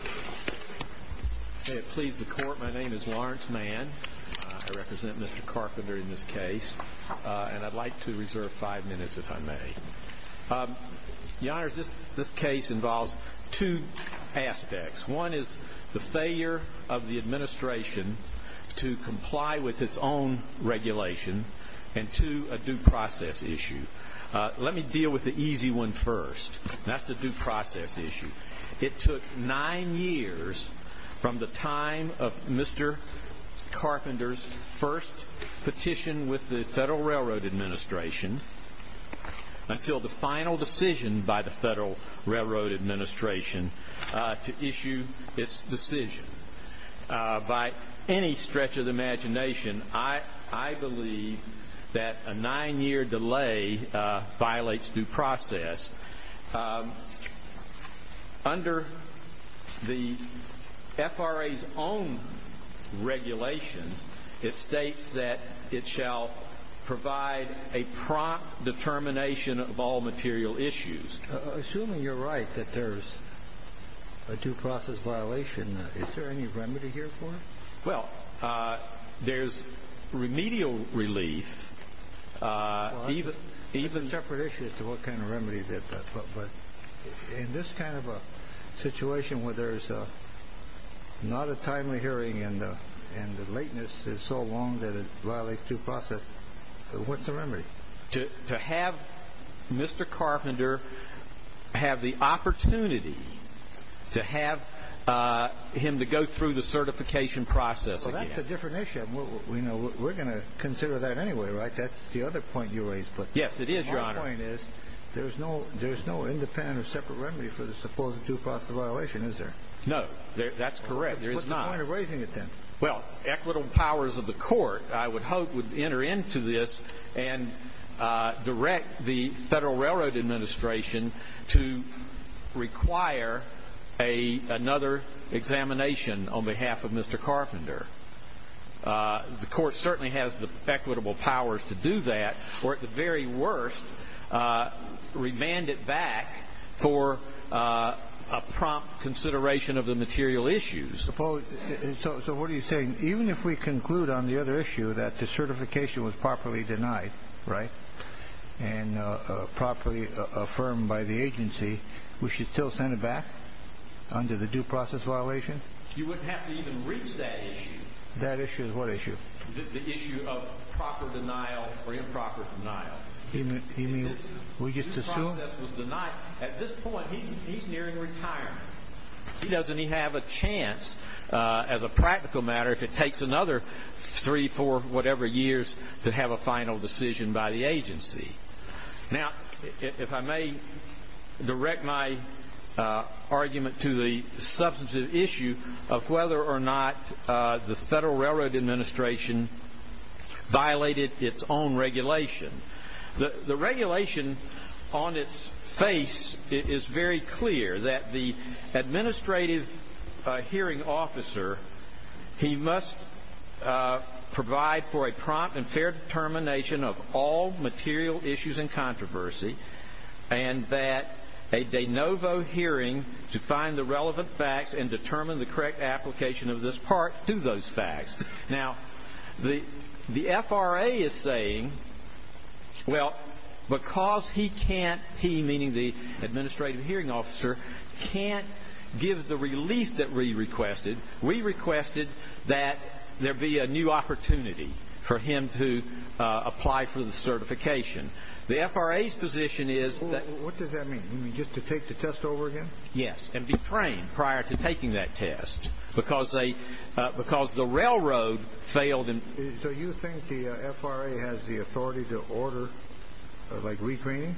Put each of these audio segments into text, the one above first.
May it please the Court, my name is Lawrence Mann. I represent Mr. Carpenter in this case. And I'd like to reserve five minutes if I may. Your Honors, this case involves two aspects. One is the failure of the administration to comply with its own regulation. And two, a due process issue. Let me deal with the easy one first. That's the due process issue. It took nine years from the time of Mr. Carpenter's first petition with the Federal Railroad Administration until the final decision by the Federal Railroad Administration to issue its decision. By any stretch of the imagination, I believe that a nine-year delay violates due process. Under the FRA's own regulations, it states that it shall provide a prompt determination of all material issues. Assuming you're right that there's a due process violation, is there any remedy here for it? Well, there's remedial relief. That's a separate issue as to what kind of remedy. But in this kind of a situation where there's not a timely hearing and the lateness is so long that it violates due process, what's the remedy? To have Mr. Carpenter have the opportunity to have him to go through the certification process again. Well, that's a different issue. We're going to consider that anyway, right? That's the other point you raised. Yes, it is, Your Honor. My point is there's no independent or separate remedy for the supposed due process violation, is there? No, that's correct. There is not. What's the point of raising it then? Well, equitable powers of the court, I would hope, would enter into this and direct the Federal Railroad Administration to require another examination on behalf of Mr. Carpenter. The court certainly has the equitable powers to do that or, at the very worst, remand it back for a prompt consideration of the material issues. So what are you saying? Even if we conclude on the other issue that the certification was properly denied, right, and properly affirmed by the agency, we should still send it back under the due process violation? You wouldn't have to even reach that issue. That issue is what issue? The issue of proper denial or improper denial. You mean we just assume? Due process was denied. At this point, he's nearing retirement. He doesn't even have a chance, as a practical matter, if it takes another three, four, whatever years, to have a final decision by the agency. Now, if I may direct my argument to the substantive issue of whether or not the Federal Railroad Administration violated its own regulation. The regulation on its face is very clear that the administrative hearing officer, he must provide for a prompt and fair determination of all material issues and controversy, and that a de novo hearing to find the relevant facts and determine the correct application of this part to those facts. Now, the FRA is saying, well, because he can't, he meaning the administrative hearing officer, can't give the relief that we requested, we requested that there be a new opportunity for him to apply for the certification. The FRA's position is that... What does that mean? You mean just to take the test over again? Yes, and be trained prior to taking that test. Because the railroad failed in... So you think the FRA has the authority to order, like, retraining?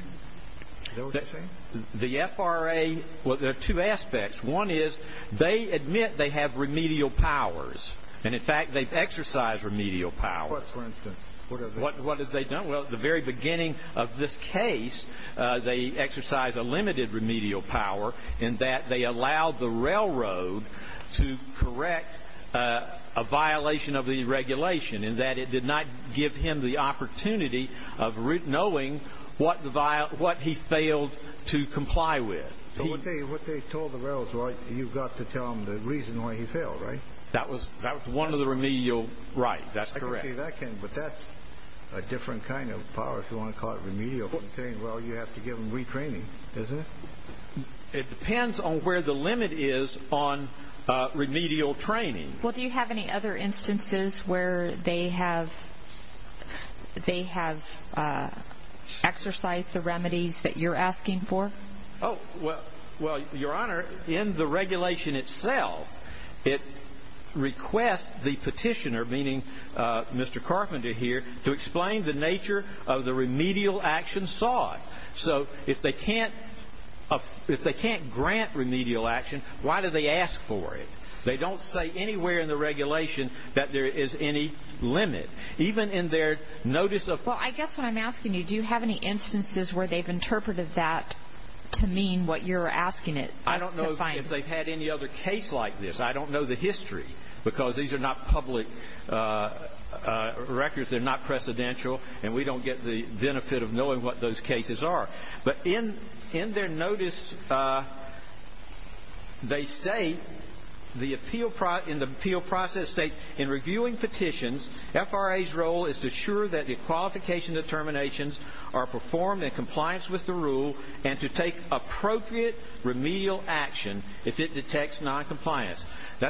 Is that what you're saying? The FRA, well, there are two aspects. One is they admit they have remedial powers, and, in fact, they've exercised remedial powers. What, for instance? What have they done? Well, at the very beginning of this case, they exercised a limited remedial power in that they allowed the railroad to correct a violation of the regulation, in that it did not give him the opportunity of knowing what he failed to comply with. But what they told the railroad is, well, you've got to tell them the reason why he failed, right? That was one of the remedial rights. That's correct. But that's a different kind of power, if you want to call it remedial. Well, you have to give them retraining, isn't it? It depends on where the limit is on remedial training. Well, do you have any other instances where they have exercised the remedies that you're asking for? Oh, well, Your Honor, in the regulation itself, it requests the petitioner, meaning Mr. Carpenter here, to explain the nature of the remedial action sought. So if they can't grant remedial action, why do they ask for it? They don't say anywhere in the regulation that there is any limit. Even in their notice of ---- Well, I guess what I'm asking you, do you have any instances where they've interpreted that to mean what you're asking it? I don't know if they've had any other case like this. I don't know the history because these are not public records. They're not precedential, and we don't get the benefit of knowing what those cases are. But in their notice, they state, in the appeal process state, That's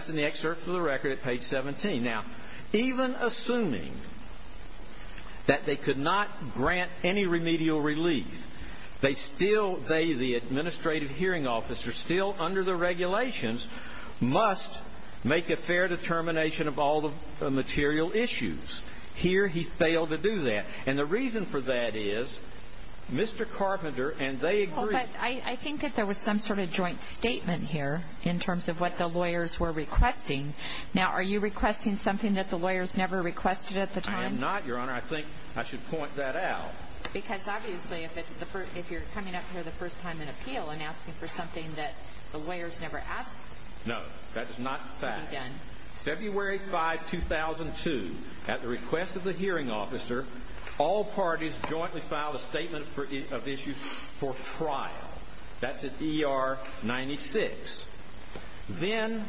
in the excerpt from the record at page 17. Now, even assuming that they could not grant any remedial relief, they still ---- they, the administrative hearing officer, still under the regulations, must make a fair determination of all the material issues. Here, he failed to do that. And the reason for that is Mr. Carpenter and they agreed ---- Well, but I think that there was some sort of joint statement here in terms of what the lawyers were requesting. Now, are you requesting something that the lawyers never requested at the time? I am not, Your Honor. I think I should point that out. Because, obviously, if it's the first ---- if you're coming up here the first time in appeal and asking for something that the lawyers never asked ---- No, that is not the fact. February 5, 2002, at the request of the hearing officer, all parties jointly filed a statement of issues for trial. That's at ER 96. Then,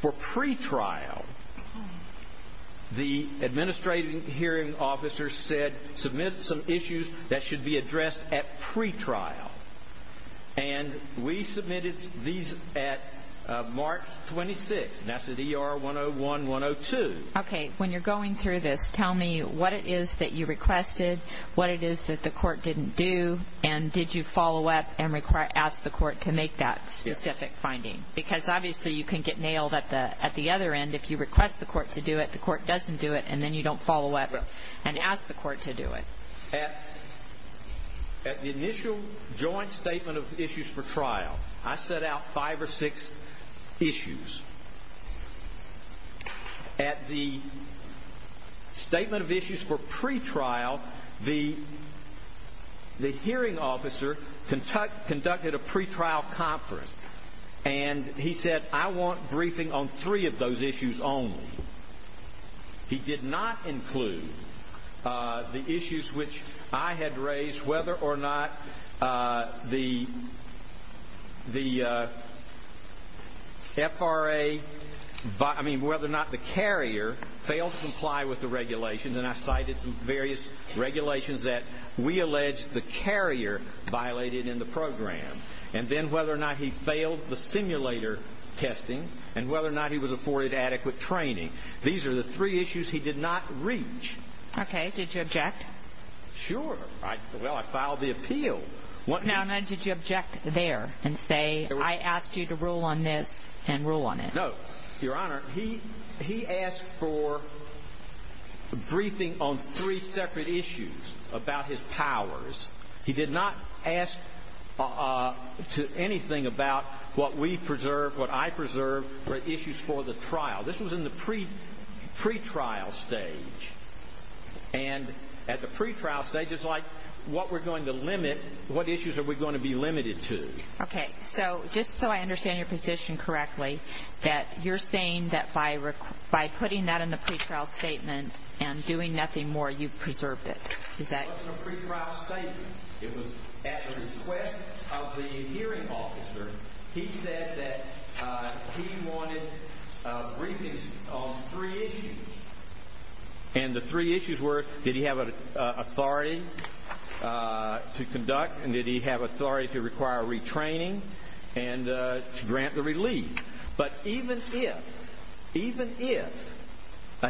for pretrial, the administrative hearing officer said, submit some issues that should be addressed at pretrial. And we submitted these at March 26. And that's at ER 101-102. Okay. When you're going through this, tell me what it is that you requested, what it is that the court didn't do, and did you follow up and ask the court to make that specific finding? Because, obviously, you can get nailed at the other end. If you request the court to do it, the court doesn't do it, and then you don't follow up and ask the court to do it. At the initial joint statement of issues for trial, I set out five or six issues. At the statement of issues for pretrial, the hearing officer conducted a pretrial conference. And he said, I want briefing on three of those issues only. He did not include the issues which I had raised, whether or not the FRA, I mean, whether or not the carrier failed to comply with the regulations. And I cited some various regulations that we allege the carrier violated in the program, and then whether or not he failed the simulator testing, and whether or not he was afforded adequate training. These are the three issues he did not reach. Okay. Did you object? Sure. Well, I filed the appeal. Now, did you object there and say, I asked you to rule on this and rule on it? No. Your Honor, he asked for briefing on three separate issues about his powers. He did not ask anything about what we preserve, what I preserve, or issues for the trial. This was in the pretrial stage. And at the pretrial stage, it's like what we're going to limit, what issues are we going to be limited to. Okay. So just so I understand your position correctly, that you're saying that by putting that in the pretrial statement and doing nothing more, you've preserved it. Is that correct? In the pretrial statement, it was at the request of the hearing officer. He said that he wanted briefings on three issues. And the three issues were, did he have authority to conduct and did he have authority to require retraining and to grant the relief. But even if, even if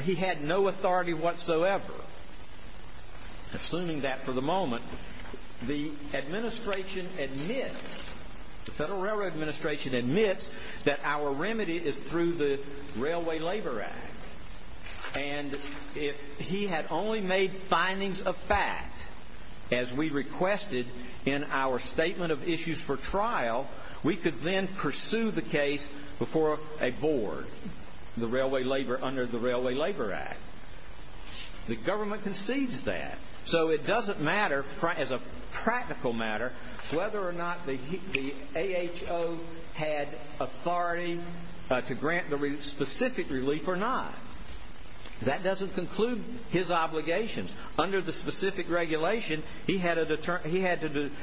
he had no authority whatsoever, assuming that for the moment, the administration admits, the Federal Railroad Administration admits that our remedy is through the Railway Labor Act. And if he had only made findings of fact, as we requested in our statement of issues for trial, we could then pursue the case before a board, the Railway Labor, under the Railway Labor Act. The government concedes that. So it doesn't matter, as a practical matter, whether or not the AHO had authority to grant the specific relief or not. That doesn't conclude his obligations. Under the specific regulation, he had to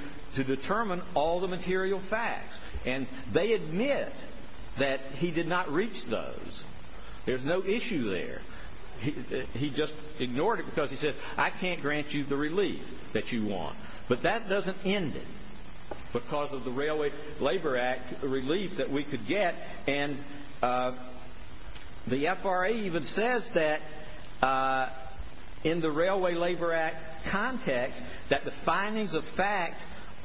determine all the material facts. And they admit that he did not reach those. There's no issue there. He just ignored it because he said, I can't grant you the relief that you want. But that doesn't end it because of the Railway Labor Act relief that we could get. And the FRA even says that in the Railway Labor Act context, that the findings of fact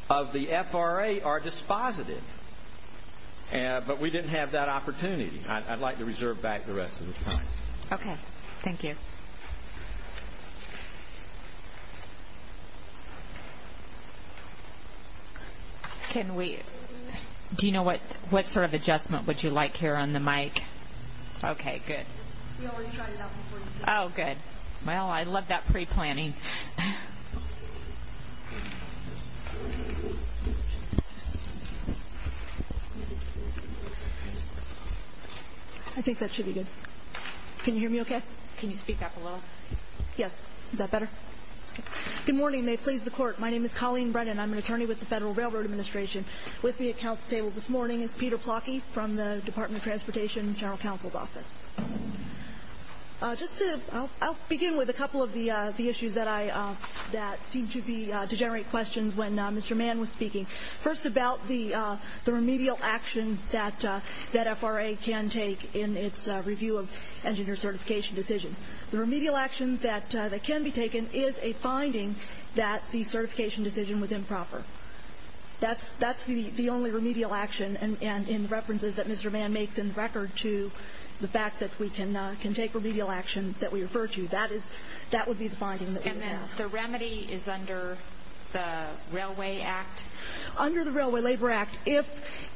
of the FRA are dispositive. But we didn't have that opportunity. I'd like to reserve back the rest of the time. Okay. Thank you. Do you know what sort of adjustment would you like here on the mic? Okay. Good. Oh, good. Well, I love that preplanning. I think that should be good. Can you hear me okay? Can you speak up a little? Yes. Is that better? Good morning. May it please the Court. My name is Colleen Brennan. I'm an attorney with the Federal Railroad Administration. With me at Council table this morning is Peter Plotky from the Department of Transportation General Counsel's Office. I'll begin with a couple of the issues that seemed to generate questions when Mr. Mann was speaking. First about the remedial action that FRA can take in its review of engineer certification decision. The remedial action that can be taken is a finding that the certification decision was improper. That's the only remedial action. And in the references that Mr. Mann makes in the record to the fact that we can take remedial action that we refer to, that would be the finding that we have. The remedy is under the Railway Act? Under the Railway Labor Act, if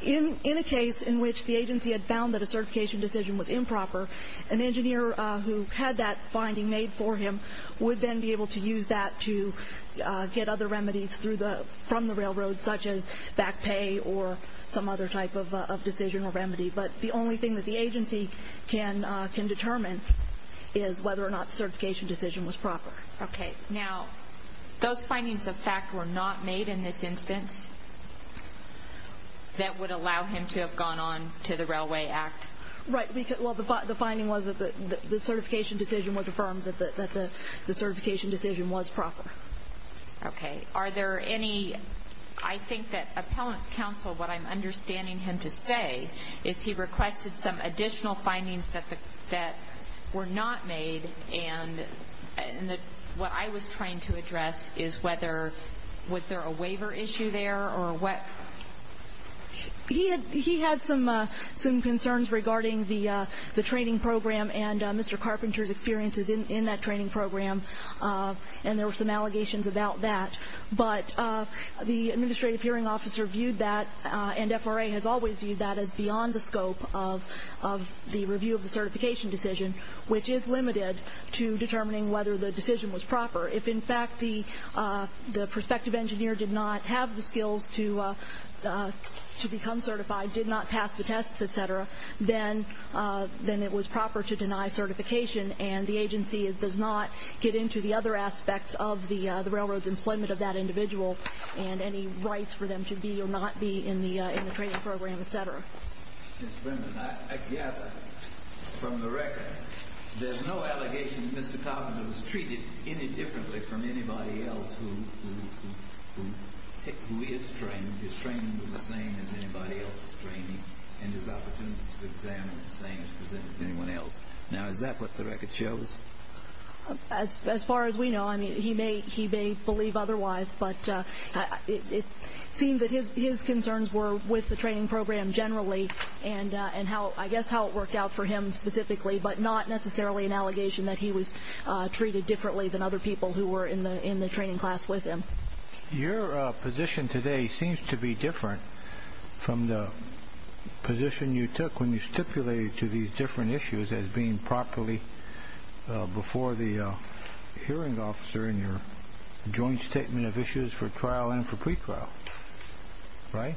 in a case in which the agency had found that a certification decision was improper, an engineer who had that finding made for him would then be able to use that to get other remedies from the railroad, such as back pay or some other type of decision or remedy. But the only thing that the agency can determine is whether or not the certification decision was proper. Okay. Now, those findings of fact were not made in this instance that would allow him to have gone on to the Railway Act? Right. Well, the finding was that the certification decision was affirmed, that the certification decision was proper. Okay. Are there any – I think that Appellant's Counsel, what I'm understanding him to say, is he requested some additional findings that were not made, and what I was trying to address is whether – was there a waiver issue there or what? He had some concerns regarding the training program and Mr. Carpenter's experiences in that training program, and there were some allegations about that. But the Administrative Hearing Officer viewed that, and FRA has always viewed that, as beyond the scope of the review of the certification decision, which is limited to determining whether the decision was proper. If, in fact, the prospective engineer did not have the skills to become certified, did not pass the tests, et cetera, then it was proper to deny certification, and the agency does not get into the other aspects of the railroad's employment of that individual and any rights for them to be or not be in the training program, et cetera. Ms. Brimden, I gather from the record there's no allegation that Mr. Carpenter was treated any differently from anybody else who is trained. His training was the same as anybody else's training, and his opportunity to examine was the same as presented to anyone else. Now, is that what the record shows? As far as we know, I mean, he may believe otherwise, but it seemed that his concerns were with the training program generally and I guess how it worked out for him specifically, but not necessarily an allegation that he was treated differently than other people who were in the training class with him. Your position today seems to be different from the position you took when you stipulated to these different issues as being properly before the hearing officer in your joint statement of issues for trial and for pretrial, right?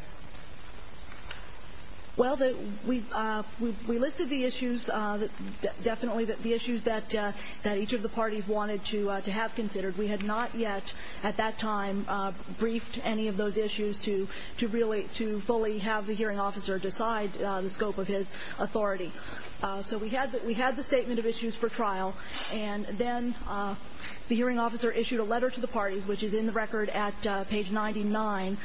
Well, we listed the issues, definitely the issues that each of the parties wanted to have considered. We had not yet at that time briefed any of those issues to fully have the hearing officer decide the scope of his authority. So we had the statement of issues for trial, and then the hearing officer issued a letter to the parties, which is in the record at page 99,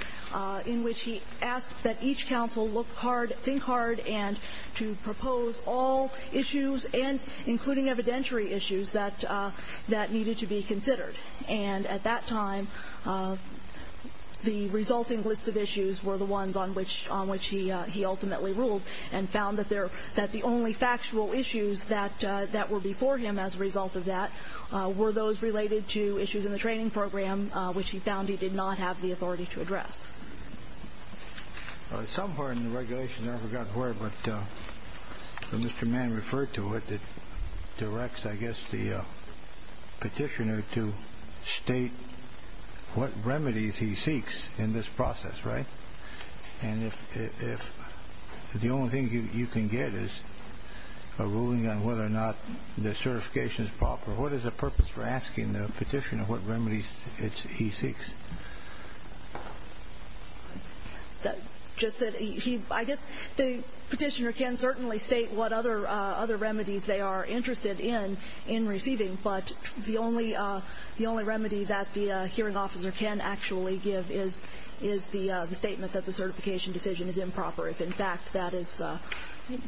in which he asked that each counsel look hard, think hard, and to propose all issues, including evidentiary issues, that needed to be considered. And at that time, the resulting list of issues were the ones on which he ultimately ruled and found that the only factual issues that were before him as a result of that were those related to issues in the training program, which he found he did not have the authority to address. Somewhere in the regulations, I forgot where, but Mr. Mann referred to it. It directs, I guess, the petitioner to state what remedies he seeks in this process, right? And if the only thing you can get is a ruling on whether or not the certification is proper, what is the purpose for asking the petitioner what remedies he seeks? I guess the petitioner can certainly state what other remedies they are interested in in receiving, but the only remedy that the hearing officer can actually give is the statement that the certification decision is improper, if in fact that is the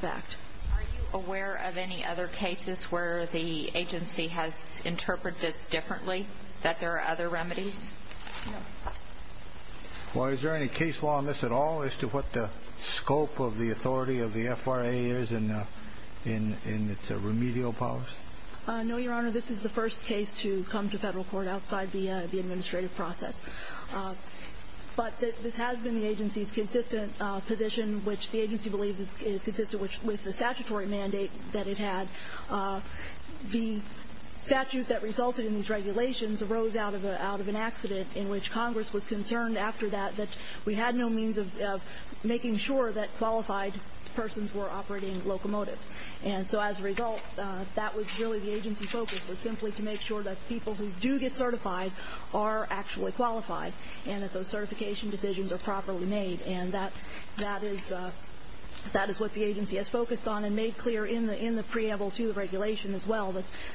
fact. Are you aware of any other cases where the agency has interpreted this differently, that there are other remedies? No. Well, is there any case law in this at all as to what the scope of the authority of the FRA is in its remedial powers? No, Your Honor. This is the first case to come to federal court outside the administrative process. But this has been the agency's consistent position, which the agency believes is consistent with the statutory mandate that it had. The statute that resulted in these regulations arose out of an accident in which Congress was concerned after that that we had no means of making sure that qualified persons were operating locomotives. And so as a result, that was really the agency's focus, was simply to make sure that people who do get certified are actually qualified and that those certification decisions are properly made. And that is what the agency has focused on and made clear in the preamble to the regulation as well,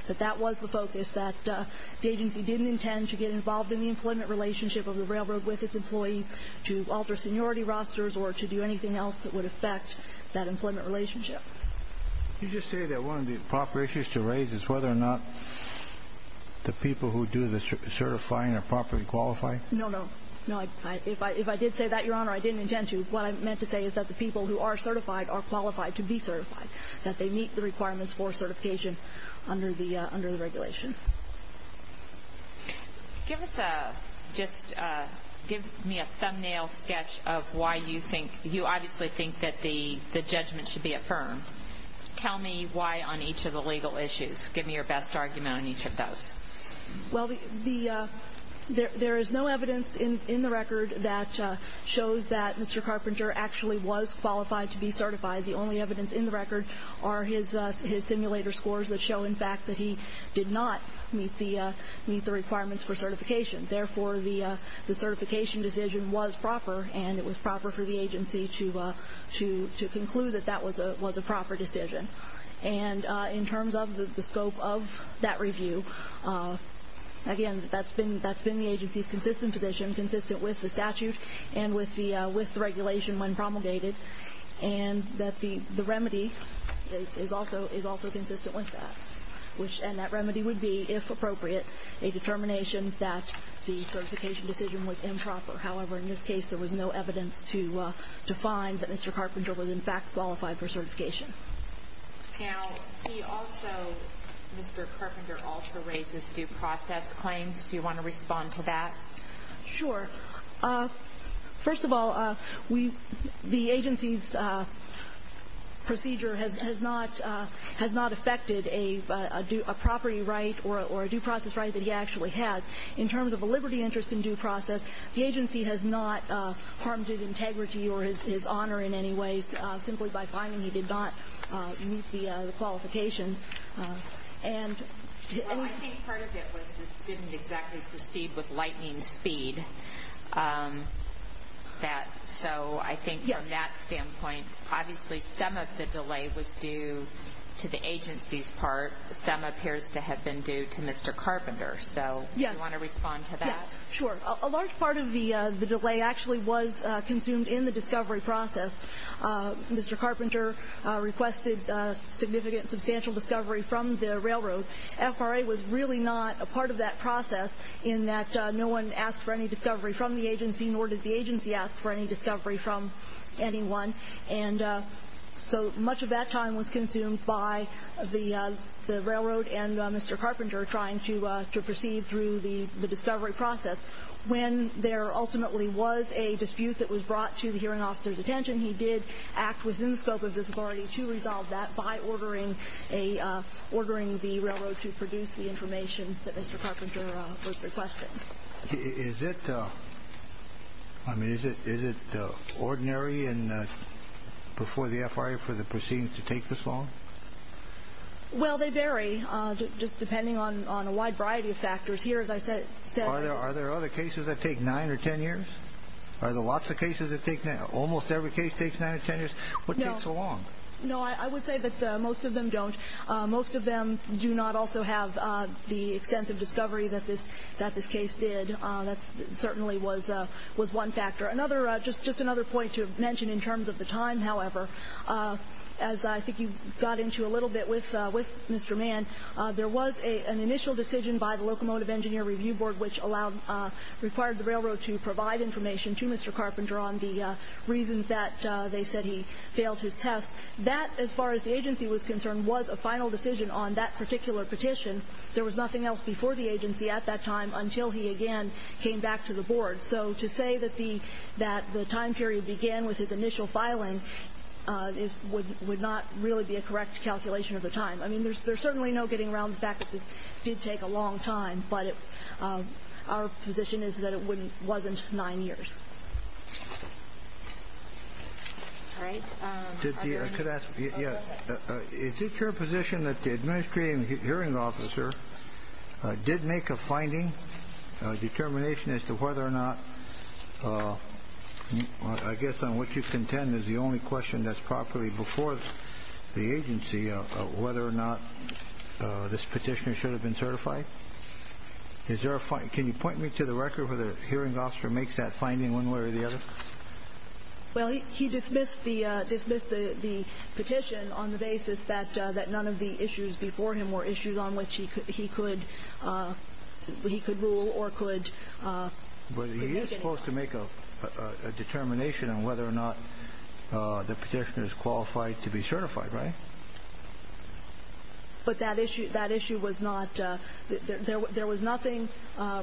that that was the focus, that the agency didn't intend to get involved in the employment relationship of the railroad with its employees, to alter seniority rosters, or to do anything else that would affect that employment relationship. Did you just say that one of the proper issues to raise is whether or not the people who do the certifying are properly qualified? No, no. If I did say that, Your Honor, I didn't intend to. What I meant to say is that the people who are certified are qualified to be certified, that they meet the requirements for certification under the regulation. Give me a thumbnail sketch of why you obviously think that the judgment should be affirmed. Tell me why on each of the legal issues. Give me your best argument on each of those. Well, there is no evidence in the record that shows that Mr. Carpenter actually was qualified to be certified. The only evidence in the record are his simulator scores that show, in fact, that he did not meet the requirements for certification. Therefore, the certification decision was proper, and it was proper for the agency to conclude that that was a proper decision. And in terms of the scope of that review, again, that's been the agency's consistent position, consistent with the statute and with the regulation when promulgated, and that the remedy is also consistent with that. And that remedy would be, if appropriate, a determination that the certification decision was improper. However, in this case, there was no evidence to find that Mr. Carpenter was, in fact, qualified for certification. Now, he also, Mr. Carpenter also raises due process claims. Do you want to respond to that? Sure. First of all, the agency's procedure has not affected a property right or a due process right that he actually has. In terms of a liberty interest in due process, the agency has not harmed his integrity or his honor in any way, simply by finding he did not meet the qualifications. Well, I think part of it was this didn't exactly proceed with lightning speed. So I think from that standpoint, obviously, some of the delay was due to the agency's part. Some appears to have been due to Mr. Carpenter. So do you want to respond to that? Sure. A large part of the delay actually was consumed in the discovery process. Mr. Carpenter requested significant, substantial discovery from the railroad. FRA was really not a part of that process in that no one asked for any discovery from the agency, nor did the agency ask for any discovery from anyone. So much of that time was consumed by the railroad and Mr. Carpenter trying to proceed through the discovery process. When there ultimately was a dispute that was brought to the hearing officer's attention, he did act within the scope of the authority to resolve that by ordering the railroad to produce the information that Mr. Carpenter was requesting. Is it ordinary before the FRA for the proceedings to take this long? Well, they vary just depending on a wide variety of factors. Here, as I said, there are other cases that take 9 or 10 years. Are there lots of cases that take 9 or 10 years? Almost every case takes 9 or 10 years. What takes so long? No, I would say that most of them don't. Most of them do not also have the extensive discovery that this case did. That certainly was one factor. Just another point to mention in terms of the time, however, as I think you got into a little bit with Mr. Mann, there was an initial decision by the Locomotive Engineer Review Board, which required the railroad to provide information to Mr. Carpenter on the reasons that they said he failed his test. That, as far as the agency was concerned, was a final decision on that particular petition. There was nothing else before the agency at that time until he again came back to the board. So to say that the time period began with his initial filing would not really be a correct calculation of the time. I mean, there's certainly no getting around the fact that this did take a long time, but our position is that it wasn't 9 years. Is it your position that the Administrative Hearing Officer did make a finding, a determination as to whether or not, I guess on what you contend is the only question that's properly before the agency, whether or not this petitioner should have been certified? Can you point me to the record where the Hearing Officer makes that finding one way or the other? Well, he dismissed the petition on the basis that none of the issues before him were issues on which he could rule or could make an issue. But he is supposed to make a determination on whether or not the petitioner is qualified to be certified, right? But that issue was not, there was nothing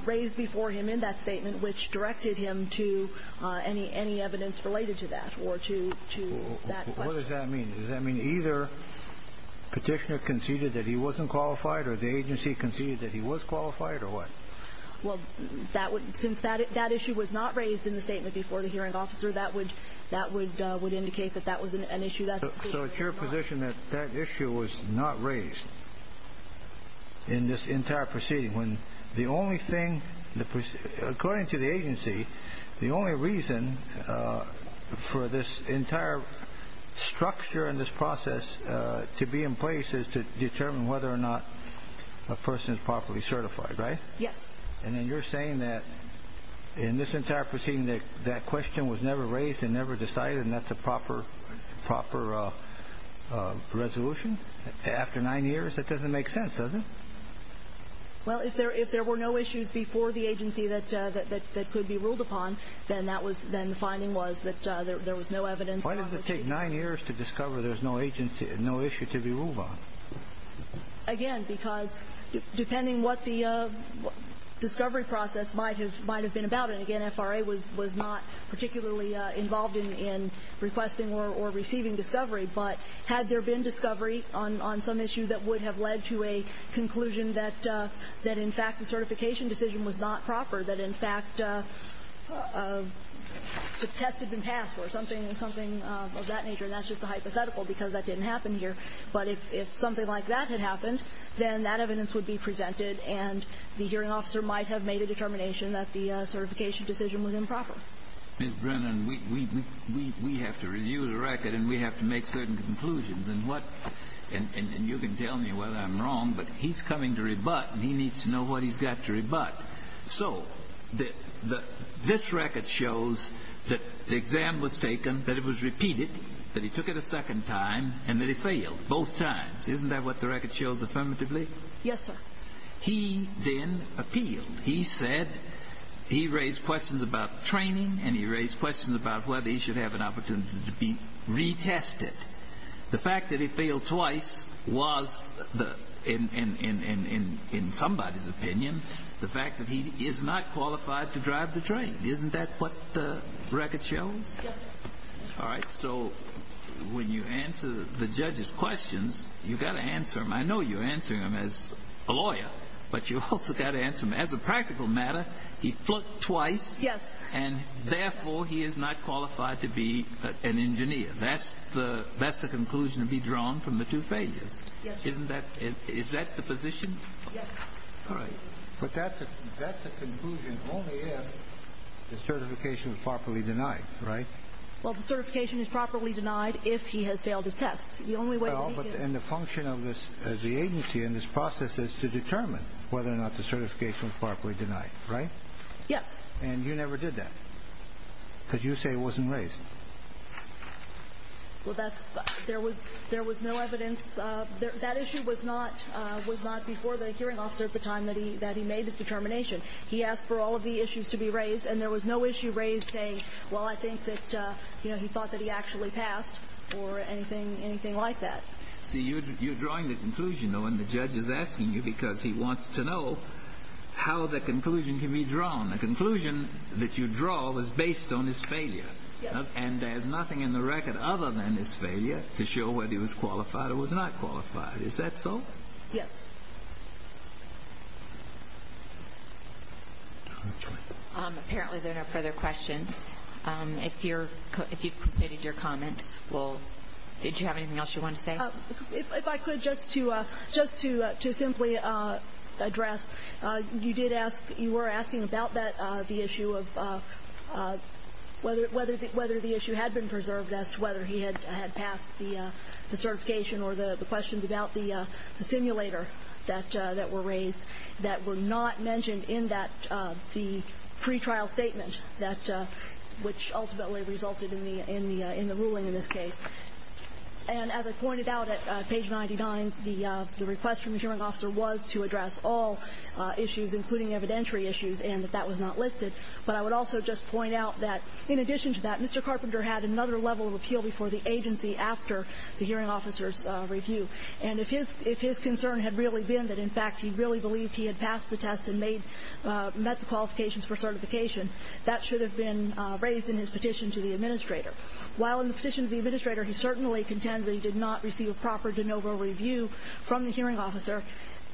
raised before him in that statement which directed him to any evidence related to that or to that question. What does that mean? Does that mean either the petitioner conceded that he wasn't qualified or the agency conceded that he was qualified or what? Well, since that issue was not raised in the statement before the Hearing Officer, that would indicate that that was an issue. So it's your position that that issue was not raised in this entire proceeding when the only thing, according to the agency, the only reason for this entire structure and this process to be in place is to determine whether or not a person is properly certified, right? Yes. And then you're saying that in this entire proceeding that question was never raised and never decided and that's a proper resolution after nine years? That doesn't make sense, does it? Well, if there were no issues before the agency that could be ruled upon, then the finding was that there was no evidence. Why does it take nine years to discover there's no issue to be ruled on? Again, because depending what the discovery process might have been about, and again, FRA was not particularly involved in requesting or receiving discovery, but had there been discovery on some issue that would have led to a conclusion that in fact the certification decision was not proper, that in fact the test had been passed or something of that nature, and that's just a hypothetical because that didn't happen here. But if something like that had happened, then that evidence would be presented and the hearing officer might have made a determination that the certification decision was improper. Ms. Brennan, we have to review the record and we have to make certain conclusions. And what – and you can tell me whether I'm wrong, but he's coming to rebut and he needs to know what he's got to rebut. So this record shows that the exam was taken, that it was repeated, that he took it a second time, and that he failed both times. Isn't that what the record shows affirmatively? Yes, sir. He then appealed. He said he raised questions about training and he raised questions about whether he should have an opportunity to be retested. The fact that he failed twice was, in somebody's opinion, the fact that he is not qualified to drive the train. Isn't that what the record shows? Yes, sir. All right. So when you answer the judge's questions, you've got to answer them. I know you're answering them as a lawyer, but you've also got to answer them as a practical matter. He flunked twice. Yes. And therefore he is not qualified to be an engineer. That's the conclusion to be drawn from the two failures. Yes, sir. Isn't that the position? Yes, sir. All right. But that's a conclusion only if the certification was properly denied, right? Well, the certification is properly denied if he has failed his tests. The only way we can – Well, and the function of the agency in this process is to determine whether or not the certification was properly denied, right? Yes. And you never did that because you say it wasn't raised. Well, that's – there was no evidence. That issue was not before the hearing officer at the time that he made his determination. He asked for all of the issues to be raised, and there was no issue raised saying, well, I think that he thought that he actually passed or anything like that. See, you're drawing the conclusion, though, and the judge is asking you because he wants to know how the conclusion can be drawn. The conclusion that you draw was based on his failure. Yes. And there's nothing in the record other than his failure to show whether he was qualified or was not qualified. Is that so? Yes. Apparently, there are no further questions. If you've completed your comments, did you have anything else you wanted to say? If I could, just to simply address, you did ask – you were asking about that, the issue of whether the issue had been preserved as to whether he had passed the certification or the questions about the simulator that were raised that were not mentioned in that – the pretrial statement that – which ultimately resulted in the ruling in this case. And as I pointed out at page 99, the request from the hearing officer was to address all issues, including evidentiary issues, and that that was not listed. But I would also just point out that, in addition to that, Mr. Carpenter had another level of appeal before the agency after the hearing officer's review. And if his concern had really been that, in fact, he really believed he had passed the test and met the qualifications for certification, that should have been raised in his petition to the administrator. While in the petition to the administrator he certainly contends that he did not receive a proper de novo review from the hearing officer,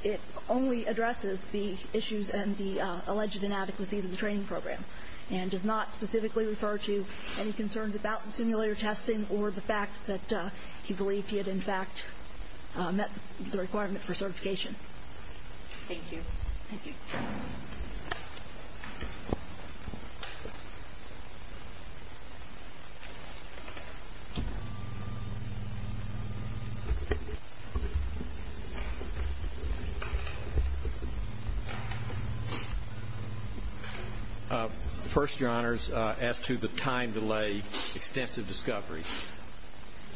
it only addresses the issues and the alleged inadequacies of the training program and does not specifically refer to any concerns about the simulator testing or the fact that he believed he had, in fact, met the requirement for certification. Thank you. Thank you. Thank you. First, Your Honors, as to the time delay, extensive discovery,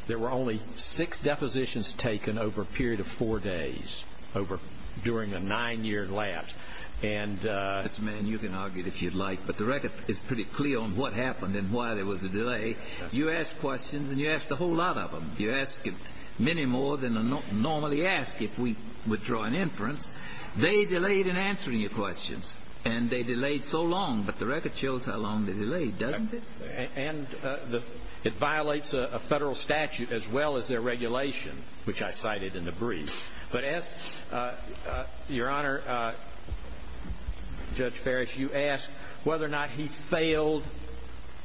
there were only six depositions taken over a period of four days over – during a nine-year lapse. And – Mr. Mann, you can argue it if you'd like, but the record is pretty clear on what happened and why there was a delay. You ask questions, and you ask a whole lot of them. You ask many more than I normally ask if we withdraw an inference. They delayed in answering your questions, and they delayed so long. But the record shows how long they delayed, doesn't it? And it violates a federal statute as well as their regulation, which I cited in the brief. But as – Your Honor, Judge Ferris, you asked whether or not he failed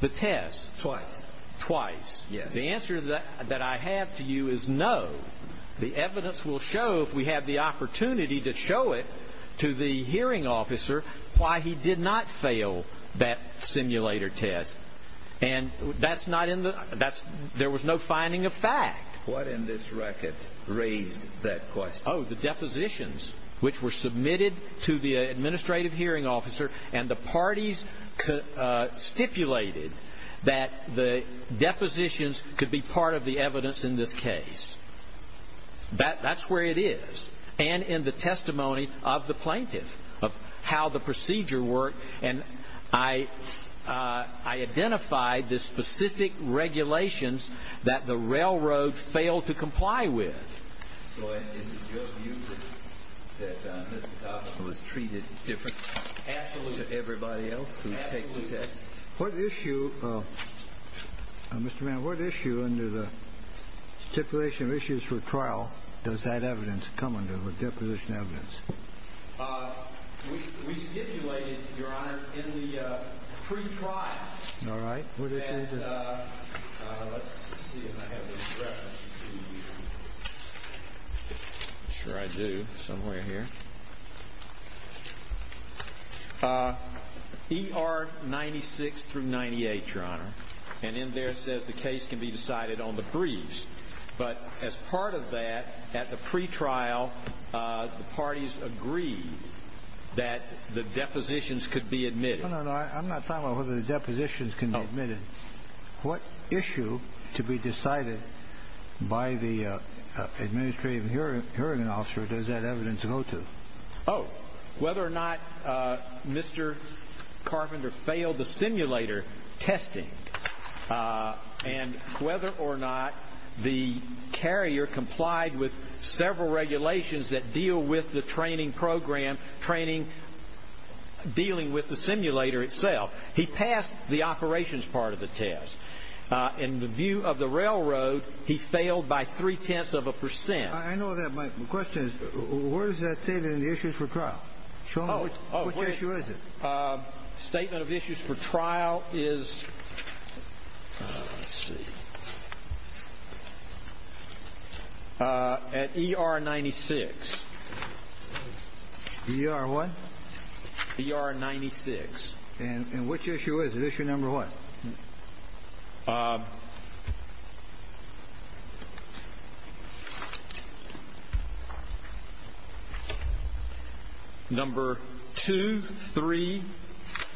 the test. Twice. Twice. Yes. The answer that I have to you is no. The evidence will show, if we have the opportunity to show it to the hearing officer, why he did not fail that simulator test. And that's not in the – that's – there was no finding of fact. What in this record raised that question? Oh, the depositions, which were submitted to the administrative hearing officer, and the parties stipulated that the depositions could be part of the evidence in this case. That's where it is. And in the testimony of the plaintiff of how the procedure worked. And I identified the specific regulations that the railroad failed to comply with. So is it your view that Mr. Thompson was treated differently than everybody else who takes the test? What issue – Mr. Mann, what issue under the stipulation of issues for trial does that evidence come under? What deposition evidence? We stipulated, Your Honor, in the pretrial. All right. What did you do? Let's see if I have this reference. I'm sure I do. Somewhere here. ER 96 through 98, Your Honor. And in there it says the case can be decided on the briefs. But as part of that, at the pretrial, the parties agreed that the depositions could be admitted. No, no, no. I'm not talking about whether the depositions can be admitted. What issue to be decided by the administrative hearing officer does that evidence go to? Oh, whether or not Mr. Carpenter failed the simulator testing. And whether or not the carrier complied with several regulations that deal with the training program, training dealing with the simulator itself. He passed the operations part of the test. In the view of the railroad, he failed by three-tenths of a percent. I know that. My question is where is that stated in the issues for trial? Show me. Which issue is it? Statement of issues for trial is at ER 96. ER what? ER 96. And which issue is it? Issue number what? Number two, three,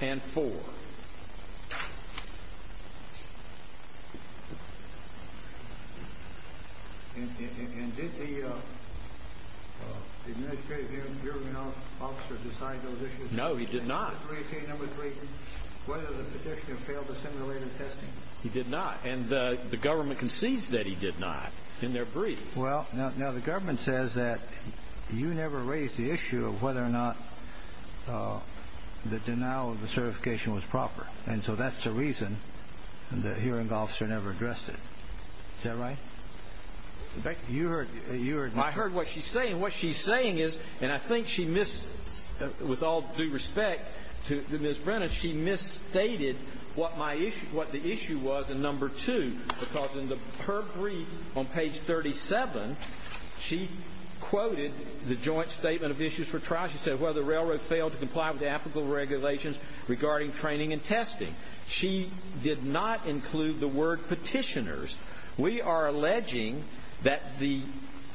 and four. And did the administrative hearing officer decide those issues? No, he did not. Whether the petitioner failed the simulator testing? He did not. And the government concedes that he did not in their brief. Well, now the government says that you never raised the issue of whether or not the denial of the certification was proper. And so that's the reason the hearing officer never addressed it. Is that right? In fact, you heard what she's saying. And what she's saying is, and I think she missed, with all due respect to Ms. Brennan, she misstated what the issue was in number two because in her brief on page 37, she quoted the joint statement of issues for trial. She said, well, the railroad failed to comply with the applicable regulations regarding training and testing. She did not include the word petitioners. We are alleging that the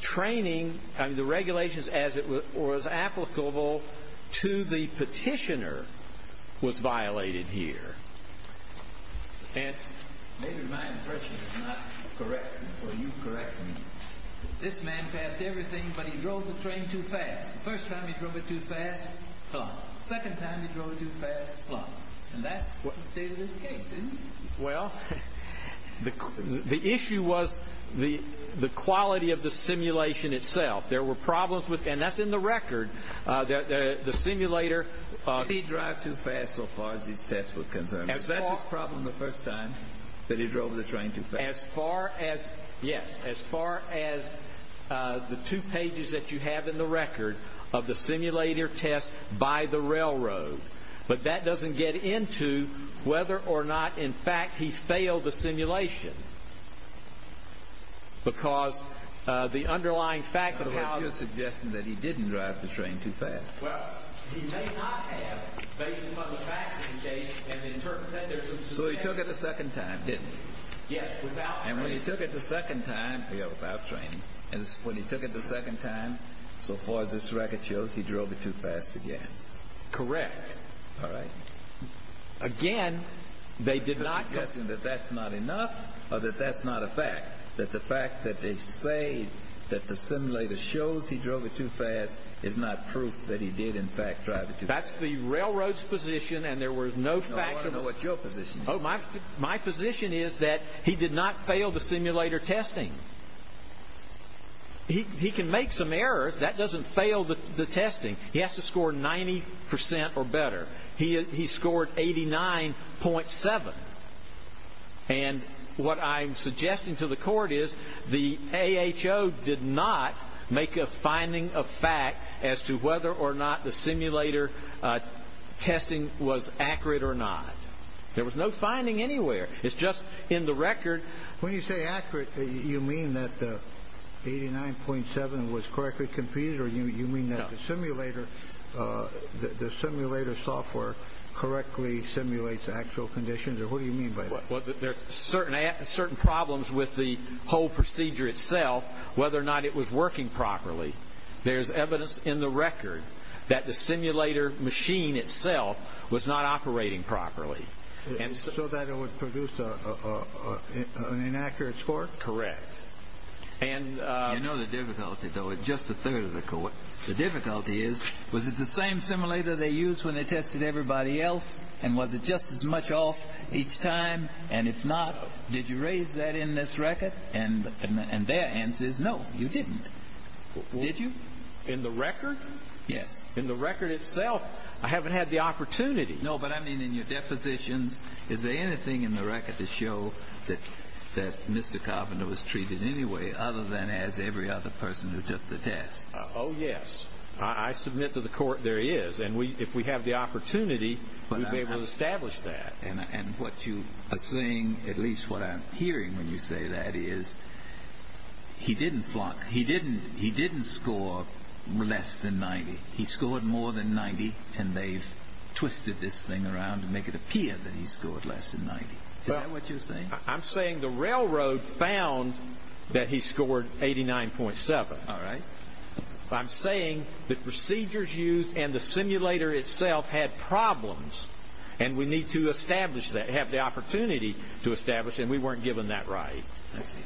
training and the regulations as it was applicable to the petitioner was violated here. Maybe my impression is not correct, so you correct me. This man passed everything, but he drove the train too fast. First time he drove it too fast, plop. Second time he drove it too fast, plop. And that's the state of this case, isn't it? Well, the issue was the quality of the simulation itself. There were problems with, and that's in the record, the simulator. Did he drive too fast so far as these tests were concerned? Is that his problem the first time that he drove the train too fast? As far as, yes, as far as the two pages that you have in the record of the simulator test by the railroad. But that doesn't get into whether or not, in fact, he failed the simulation. Because the underlying facts of how the… But you're suggesting that he didn't drive the train too fast. Well, he may not have, based upon the facts of the case, and interpret that there's some… So he took it the second time, didn't he? Yes, without… And when he took it the second time… Yeah, without training. And when he took it the second time, so far as this record shows, he drove it too fast again. Correct. All right. Again, they did not… Are you suggesting that that's not enough, or that that's not a fact? That the fact that they say that the simulator shows he drove it too fast is not proof that he did, in fact, drive it too fast? That's the railroad's position, and there was no factor… No, I want to know what your position is. Oh, my position is that he did not fail the simulator testing. He can make some errors. That doesn't fail the testing. He has to score 90 percent or better. He scored 89.7. And what I'm suggesting to the court is the AHO did not make a finding of fact as to whether or not the simulator testing was accurate or not. There was no finding anywhere. It's just in the record… When you say accurate, you mean that the 89.7 was correctly computed, or you mean that the simulator software correctly simulates actual conditions, or what do you mean by that? Well, there's certain problems with the whole procedure itself, whether or not it was working properly. There's evidence in the record that the simulator machine itself was not operating properly. So that it would produce an inaccurate score? Correct. You know the difficulty, though? It's just a third of the court. The difficulty is, was it the same simulator they used when they tested everybody else, and was it just as much off each time, and if not, did you raise that in this record? And their answer is no, you didn't. Did you? In the record? Yes. In the record itself, I haven't had the opportunity. No, but I mean in your depositions, is there anything in the record to show that Mr. Carpenter was treated any way other than as every other person who took the test? Oh, yes. I submit to the court there is, and if we have the opportunity, we'll be able to establish that. And what you are saying, at least what I'm hearing when you say that, is he didn't score less than 90. He scored more than 90, and they've twisted this thing around to make it appear that he scored less than 90. Is that what you're saying? I'm saying the railroad found that he scored 89.7. All right. I'm saying the procedures used and the simulator itself had problems, and we need to establish that, have the opportunity to establish, and we weren't given that right. I see.